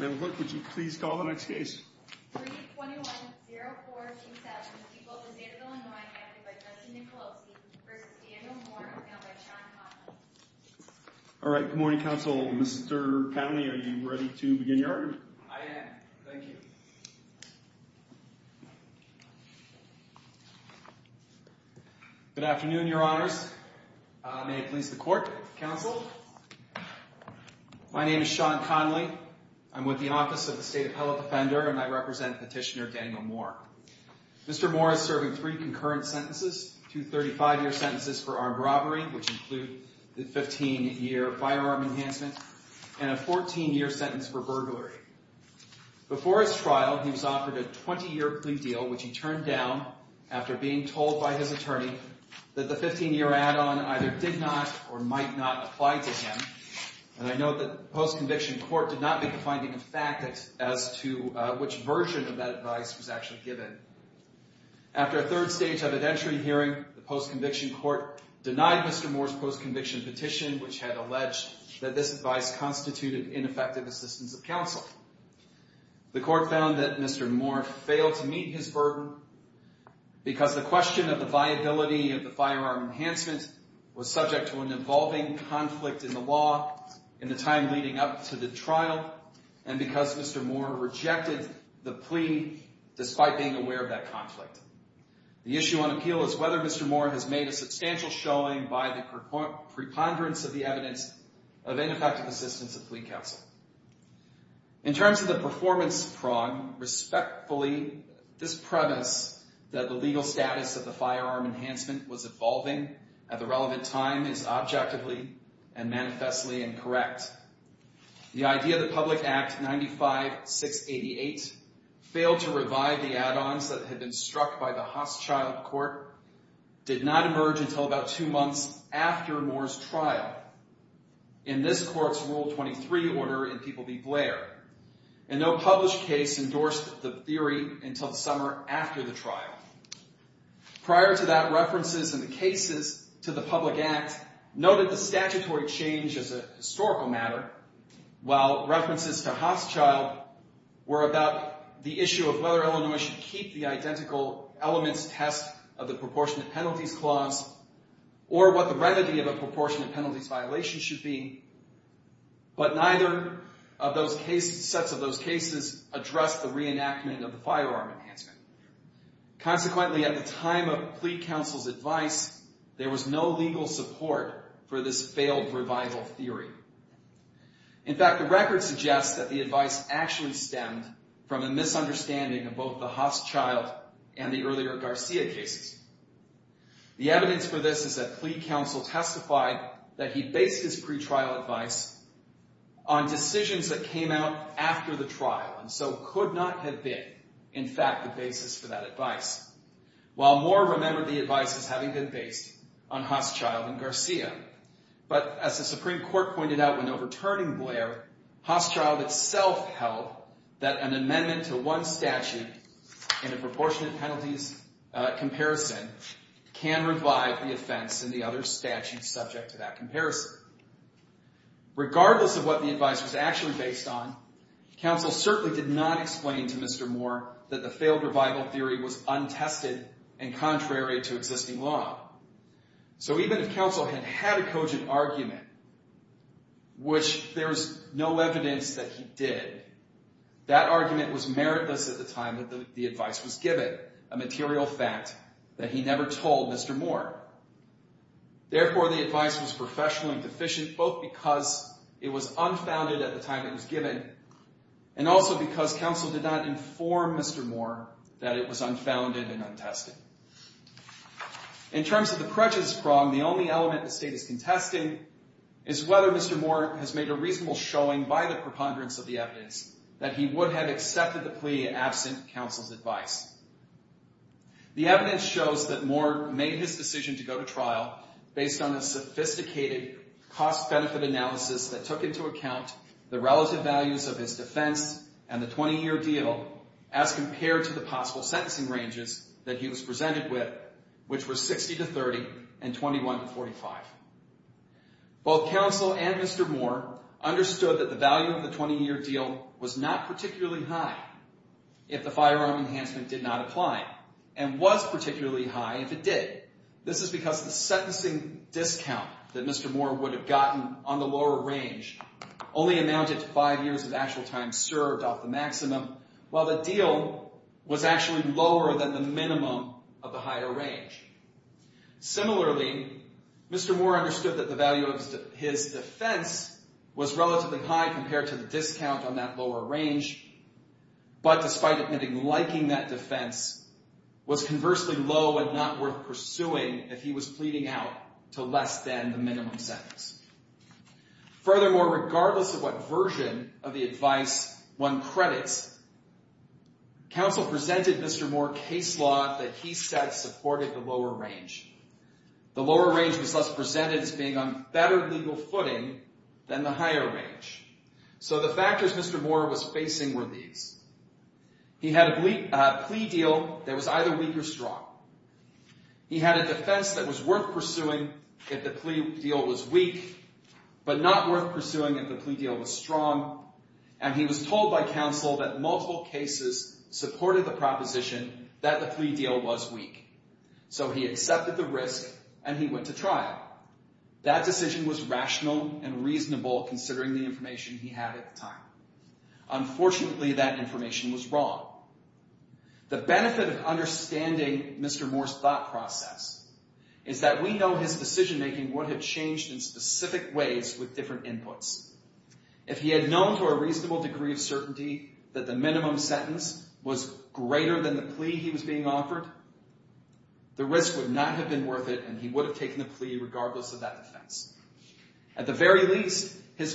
321-0147, Equal to the State of Illinois, acted by Justin Nicolosi v. Daniel Moore, is mailed by Sean Conlon. Alright, good morning, Counsel. Mr. Powny, are you ready to begin your argument? I am. Thank you. Good afternoon, Your Honors. May it please the Court, Counsel. My name is Sean Connolly. I'm with the Office of the State Appellate Defender, and I represent Petitioner Daniel Moore. Mr. Moore is serving three concurrent sentences, two 35-year sentences for armed robbery, which include the 15-year firearm enhancement, and a 14-year sentence for burglary. Before his trial, he was offered a 20-year plea deal, which he turned down after being told by his attorney that the 15-year add-on either did not or might not apply to him. And I note that the post-conviction court did not make a finding of fact as to which version of that advice was actually given. After a third stage evidentiary hearing, the post-conviction court denied Mr. Moore's post-conviction petition, which had alleged that this advice constituted ineffective assistance of counsel. The court found that Mr. Moore failed to meet his burden because the question of the viability of the firearm enhancement was subject to an evolving conflict in the law in the time leading up to the trial, and because Mr. Moore rejected the plea despite being aware of that conflict. The issue on appeal is whether Mr. Moore has made a substantial showing by the preponderance of the evidence of ineffective assistance of plea counsel. In terms of the performance prong, respectfully, this premise that the legal status of the firearm enhancement was evolving at the relevant time is objectively and manifestly incorrect. The idea that Public Act 95-688 failed to revive the add-ons that had been struck by the Haas child court did not emerge until about two months after Moore's trial in this court's Rule 23 order in People v. Blair, and no published case endorsed the theory until the summer after the trial. Prior to that, references in the cases to the Public Act noted the statutory change as a historical matter, while references to Haas child were about the issue of whether Illinois should keep the identical elements test of the proportionate penalties clause or what the remedy of a proportionate penalties violation should be, but neither of those sets of those cases addressed the reenactment of the firearm enhancement. Consequently, at the time of plea counsel's advice, there was no legal support for this failed revival theory. In fact, the record suggests that the advice actually stemmed from a misunderstanding of both the Haas child and the earlier Garcia cases. The evidence for this is that plea counsel testified that he based his pretrial advice on decisions that came out after the trial and so could not have been, in fact, the basis for that advice, while Moore remembered the advice as having been based on Haas child and Garcia. But as the Supreme Court pointed out when overturning Blair, Haas child itself held that an amendment to one statute in a proportionate penalties comparison can revive the offense in the other statute subject to that comparison. Regardless of what the advice was actually based on, counsel certainly did not explain to Mr. Moore that the failed revival theory was untested and contrary to existing law. So even if counsel had had a cogent argument, which there's no evidence that he did, that argument was meritless at the time that the advice was given, a material fact that he never told Mr. Moore. Therefore, the advice was professionally deficient both because it was unfounded at the time it was given and also because counsel did not inform Mr. Moore that it was unfounded and untested. In terms of the prejudice prong, the only element the state is contesting is whether Mr. Moore has made a reasonable showing by the preponderance of the evidence that he would have accepted the plea absent counsel's advice. The evidence shows that Moore made his decision to go to trial based on a sophisticated cost-benefit analysis that took into account the relative values of his defense and the 20-year deal as compared to the possible sentencing ranges that he was presented with, which were 60 to 30 and 21 to 45. Both counsel and Mr. Moore understood that the value of the 20-year deal was not particularly high if the firearm enhancement did not apply and was particularly high if it did. This is because the sentencing discount that Mr. Moore would have gotten on the lower range only amounted to five years of actual time served off the maximum, while the deal was actually lower than the minimum of the higher range. Similarly, Mr. Moore understood that the value of his defense was relatively high compared to the discount on that lower range, but despite admitting liking that defense, was conversely low and not worth pursuing if he was pleading out to less than the minimum sentence. Furthermore, regardless of what version of the advice one credits, counsel presented Mr. Moore case law that he said supported the lower range. The lower range was thus presented as being on better legal footing than the higher range. So the factors Mr. Moore was facing were these. He had a plea deal that was either weak or strong. He had a defense that was worth pursuing if the plea deal was weak, but not worth pursuing if the plea deal was strong, and he was told by counsel that multiple cases supported the proposition that the plea deal was weak. So he accepted the risk and he went to trial. That decision was rational and reasonable considering the information he had at the time. Unfortunately, that information was wrong. The benefit of understanding Mr. Moore's thought process is that we know his decision making would have changed in specific ways with different inputs. If he had known to a reasonable degree of certainty that the minimum sentence was greater than the plea he was being offered, the risk would not have been worth it and he would have taken the plea regardless of that defense. At the very least, his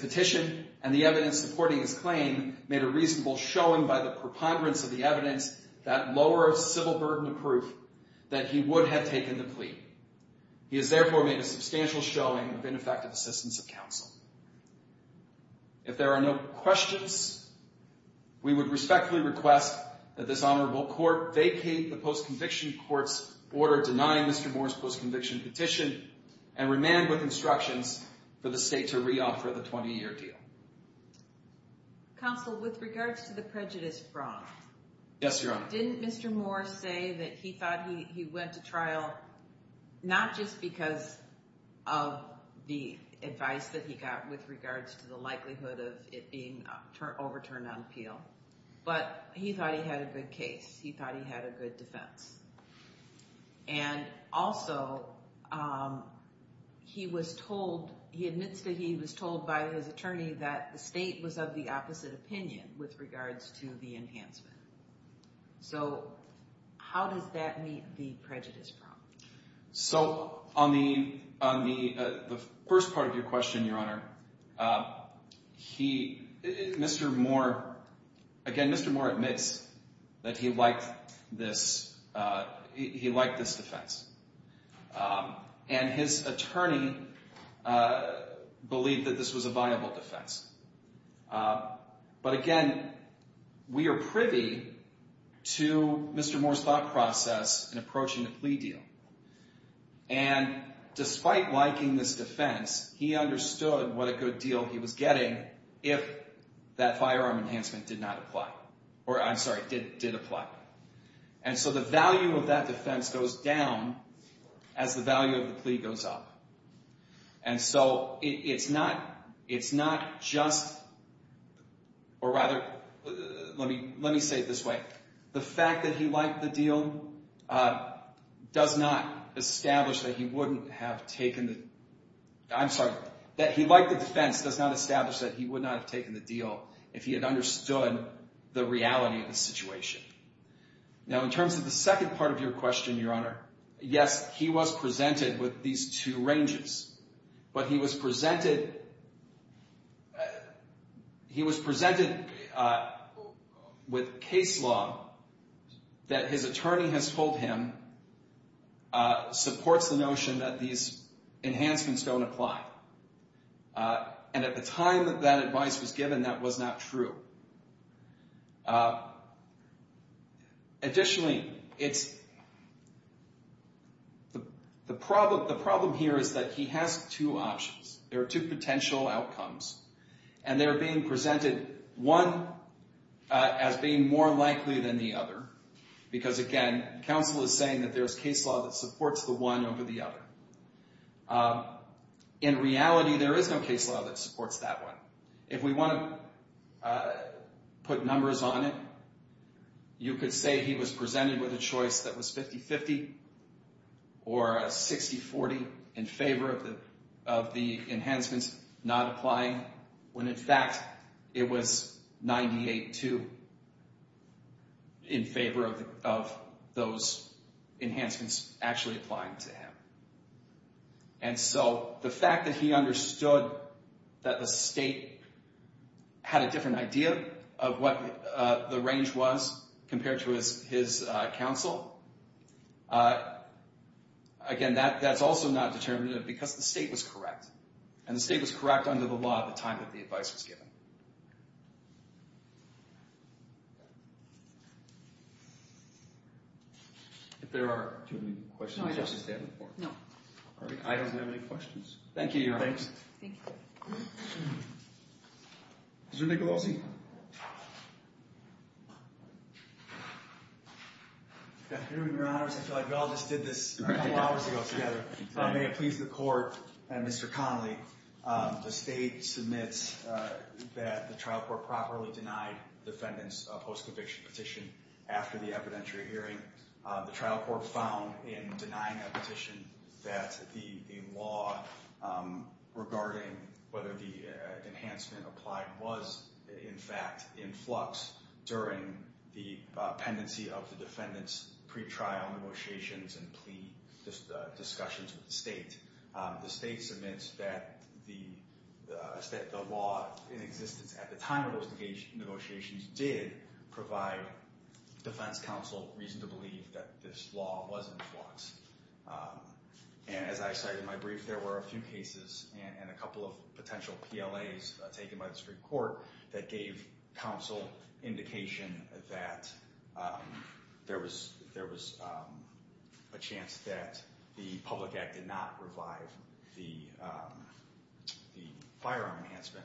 petition and the evidence supporting his claim made a reasonable showing by the preponderance of the evidence that lower civil burden of proof that he would have taken the plea. He has therefore made a substantial showing of ineffective assistance of counsel. If there are no questions, we would respectfully request that this honorable court vacate the post-conviction court's order denying Mr. Moore's post-conviction petition and remand with instructions for the state to reoffer the 20-year deal. Counsel, with regards to the prejudice fraud... Yes, Your Honor. Didn't Mr. Moore say that he thought he went to trial not just because of the advice that he got with regards to the likelihood of it being overturned on appeal, but he thought he had a good case. He thought he had a good defense. And also, he admits that he was told by his attorney that the state was of the opposite opinion with regards to the enhancement. So, how does that meet the prejudice problem? So, on the first part of your question, Your Honor, Mr. Moore admits that he liked this defense. And his attorney believed that this was a viable defense. But again, we are privy to Mr. Moore's thought process in approaching the plea deal. And despite liking this defense, he understood what a good deal he was getting if that firearm enhancement did not apply. Or, I'm sorry, did apply. And so the value of that defense goes down as the value of the plea goes up. And so it's not just, or rather, let me say it this way. The fact that he liked the deal does not establish that he wouldn't have taken the, I'm sorry, that he liked the defense does not establish that he would not have taken the deal if he had understood the reality of the situation. Now, in terms of the second part of your question, Your Honor, yes, he was presented with these two ranges. But he was presented with case law that his attorney has told him supports the notion that these enhancements don't apply. And at the time that that advice was given, that was not true. Additionally, it's, the problem here is that he has two options. There are two potential outcomes. And they're being presented, one as being more likely than the other. Because again, counsel is saying that there's case law that supports the one over the other. In reality, there is no case law that supports that one. If we want to put numbers on it, you could say he was presented with a choice that was 50-50 or a 60-40 in favor of the enhancements not applying, when in fact it was 98-2 in favor of those enhancements actually applying to him. And so the fact that he understood that the state had a different idea of what the range was compared to his counsel, again, that's also not determinative because the state was correct. And the state was correct under the law at the time that the advice was given. If there are too many questions, I'll just stand before you. No. All right. I don't have any questions. Thank you, Your Honor. Thanks. Thank you. Mr. Nicolosi. Good afternoon, Your Honors. I feel like we all just did this a couple hours ago together. May it please the Court, Mr. Connolly, the state submits that the trial court properly denied defendants a post-conviction petition after the evidentiary hearing. The trial court found in denying that petition that the law regarding whether the enhancement applied was in fact in flux during the pendency of the defendant's pre-trial negotiations and plea discussions with the state. The state submits that the law in existence at the time of those negotiations did provide defense counsel reason to believe that this law was in flux. And as I cited in my brief, there were a few cases and a couple of potential PLAs taken by the Supreme Court that gave counsel indication that there was a chance that the public act did not revive the firearm enhancement.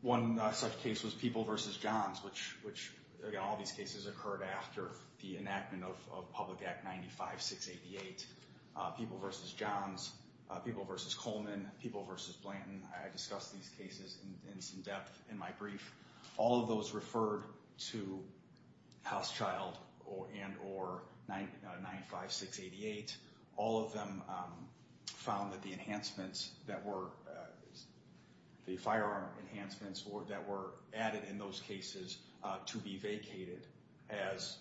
One such case was People v. Johns, which, again, all these cases occurred after the enactment of Public Act 95-688. People v. Johns, People v. Coleman, People v. Blanton, I discussed these cases in some depth in my brief. All of those referred to House Child and or 95-688. All of them found that the enhancements that were, the firearm enhancements that were added in those cases to be vacated as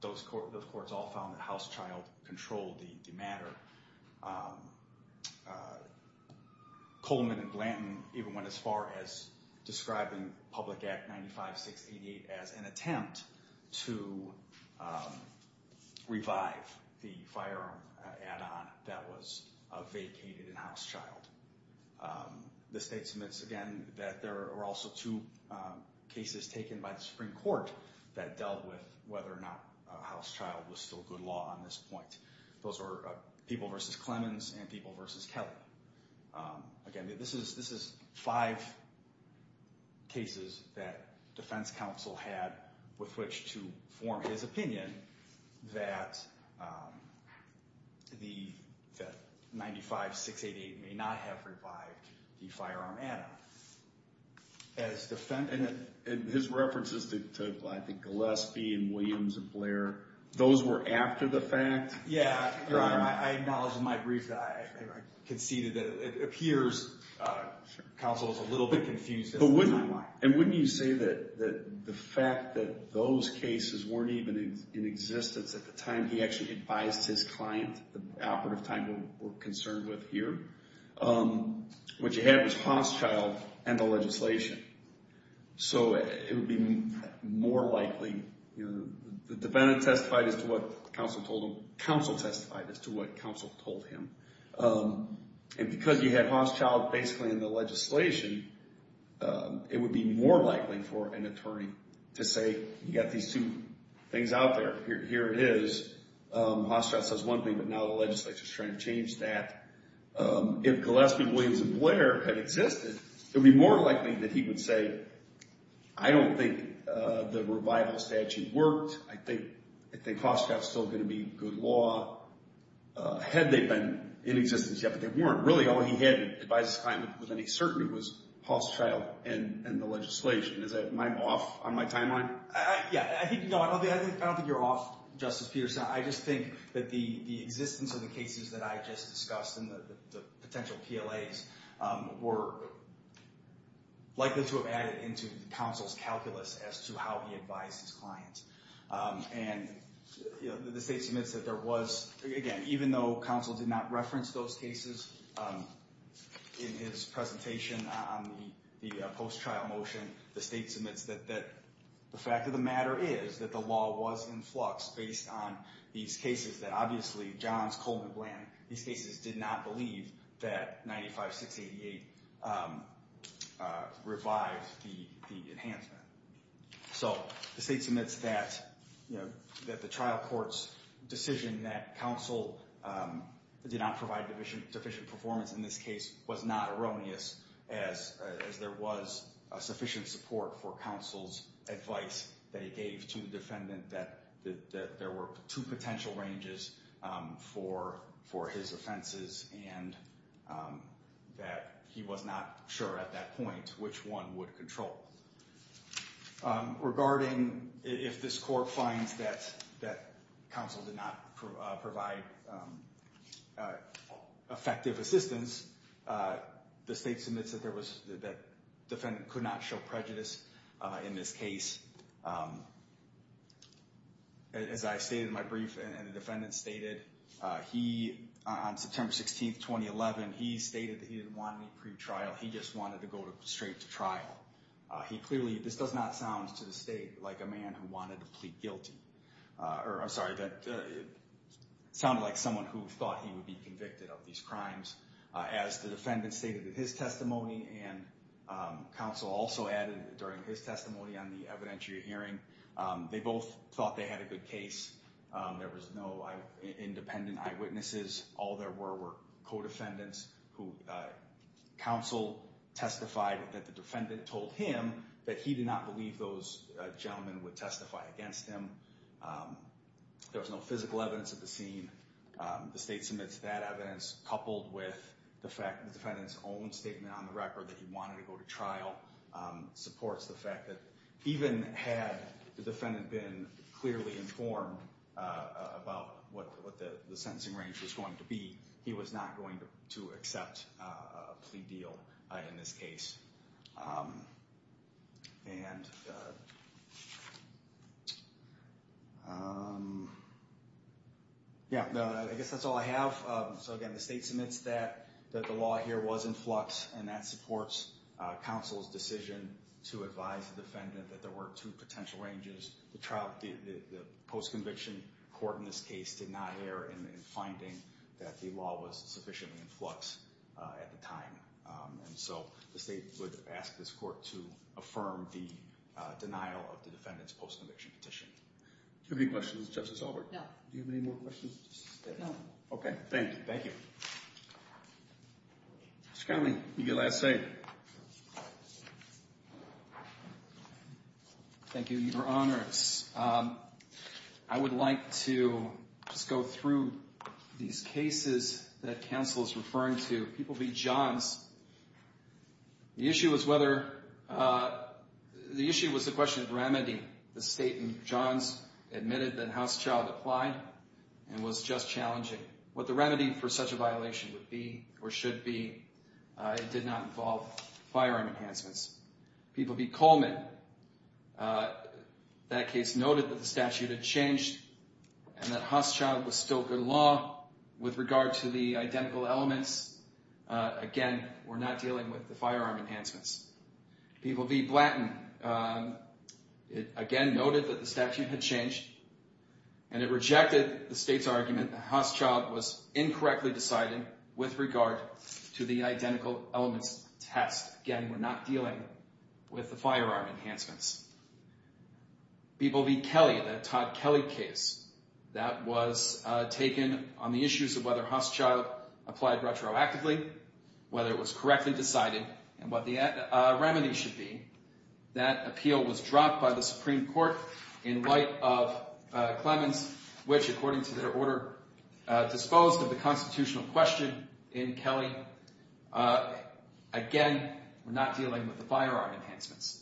those courts all found that House Child controlled the matter. Coleman and Blanton even went as far as describing Public Act 95-688 as an attempt to revive the firearm add-on that was vacated in House Child. The state submits again that there were also two cases taken by the Supreme Court that dealt with whether or not House Child was still good law on this point. Those were People v. Clemens and People v. Kelley. Again, this is five cases that defense counsel had with which to form his opinion that 95-688 may not have revived the firearm add-on. And his references to, I think, Gillespie and Williams and Blair, those were after the fact? Yeah, I acknowledge in my brief that I conceded that it appears counsel is a little bit confused in the timeline. And wouldn't you say that the fact that those cases weren't even in existence at the time he actually advised his client, the operative time we're concerned with here, what you had was House Child and the legislation. So it would be more likely the defendant testified as to what counsel told him. Counsel testified as to what counsel told him. And because you had House Child basically in the legislation, it would be more likely for an attorney to say, you got these two things out there. Here it is. House Child says one thing, but now the legislature is trying to change that. If Gillespie, Williams, and Blair had existed, it would be more likely that he would say, I don't think the revival statute worked. I think House Child is still going to be good law. Had they been in existence yet, but they weren't. Really, all he had to advise his client with any certainty was House Child and the legislation. Am I off on my timeline? Yeah, I don't think you're off, Justice Peterson. I just think that the existence of the cases that I just discussed and the potential PLAs were likely to have added into counsel's calculus as to how he advised his client. And the state submits that there was, again, even though counsel did not reference those cases in his presentation on the post-trial motion, the state submits that the fact of the matter is that the law was in flux based on these cases that, obviously, Johns, Coleman, Blanton, these cases did not believe that 95-688 revived the enhancement. So the state submits that the trial court's decision that counsel did not provide sufficient performance in this case was not erroneous as there was sufficient support for counsel's advice that he gave to the defendant that there were two potential ranges for his offenses and that he was not sure at that point which one would control. Regarding if this court finds that counsel did not provide effective assistance, the state submits that the defendant could not show prejudice in this case. As I stated in my brief and the defendant stated, he, on September 16, 2011, he stated that he didn't want any pre-trial. He just wanted to go straight to trial. He clearly, this does not sound to the state like a man who wanted to plead guilty. Or, I'm sorry, that it sounded like someone who thought he would be convicted of these crimes. As the defendant stated in his testimony and counsel also added during his testimony on the evidentiary hearing, they both thought they had a good case. There was no independent eyewitnesses. All there were were co-defendants who counsel testified that the defendant told him that he did not believe those gentlemen would testify against him. There was no physical evidence at the scene. The state submits that evidence coupled with the fact that the defendant's own statement on the record that he wanted to go to trial supports the fact that even had the defendant been clearly informed about what the sentencing range was going to be, he was not going to accept a plea deal in this case. I guess that's all I have. Again, the state submits that the law here was in flux and that supports counsel's decision to advise the defendant that there were two potential ranges. The post-conviction court in this case did not err in finding that the law was sufficiently in flux at the time. And so the state would ask this court to affirm the denial of the defendant's post-conviction petition. Do you have any questions, Justice Albert? No. Do you have any more questions? No. Okay, thank you. Thank you. Mr. Connelly, your last statement. Thank you, Your Honors. I would like to just go through these cases that counsel is referring to. People beat Johns. The issue was whether—the issue was the question of remedy. The state in Johns admitted that House Child applied and was just challenging. What the remedy for such a violation would be or should be, it did not involve firearm enhancements. People beat Coleman. That case noted that the statute had changed and that House Child was still good law with regard to the identical elements. Again, we're not dealing with the firearm enhancements. People beat Blanton. It again noted that the statute had changed and it rejected the state's argument that House Child was incorrectly decided with regard to the identical elements test. Again, we're not dealing with the firearm enhancements. People beat Kelly. That was taken on the issues of whether House Child applied retroactively, whether it was correctly decided, and what the remedy should be. That appeal was dropped by the Supreme Court in light of Clemens, which, according to their order, disposed of the constitutional question in Kelly. Again, we're not dealing with the firearm enhancements.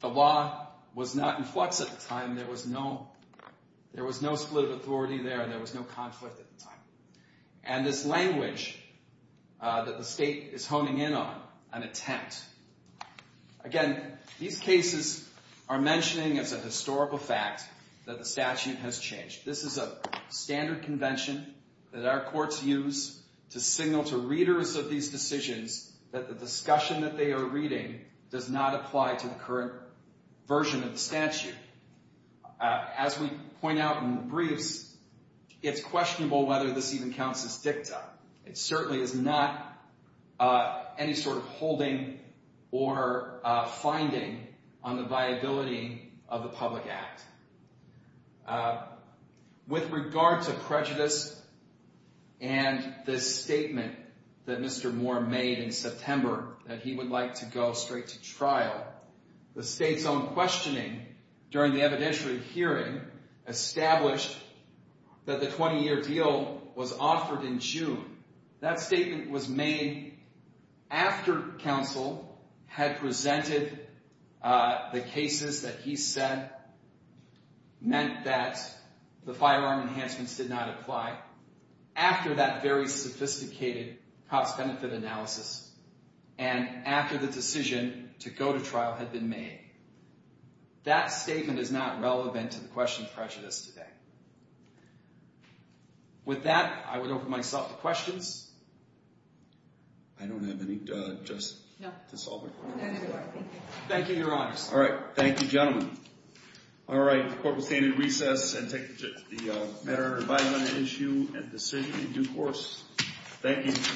The law was not in flux at the time. There was no split of authority there. There was no conflict at the time. And this language that the state is honing in on, an attempt. Again, these cases are mentioning as a historical fact that the statute has changed. This is a standard convention that our courts use to signal to readers of these decisions that the discussion that they are reading does not apply to the current version of the statute. As we point out in the briefs, it's questionable whether this even counts as dicta. It certainly is not any sort of holding or finding on the viability of the public act. With regard to prejudice and this statement that Mr. Moore made in September that he would like to go straight to trial, the state's own questioning during the evidentiary hearing established that the 20-year deal was offered in June. That statement was made after counsel had presented the cases that he said meant that the firearm enhancements did not apply, after that very sophisticated cost-benefit analysis, and after the decision to go to trial had been made. That statement is not relevant to the question of prejudice today. With that, I would open myself to questions. I don't have any just to solve it. Thank you, your honors. All right. Thank you, gentlemen. All right. The court will stand in recess and take the matter of an issue and decision in due course. Thank you.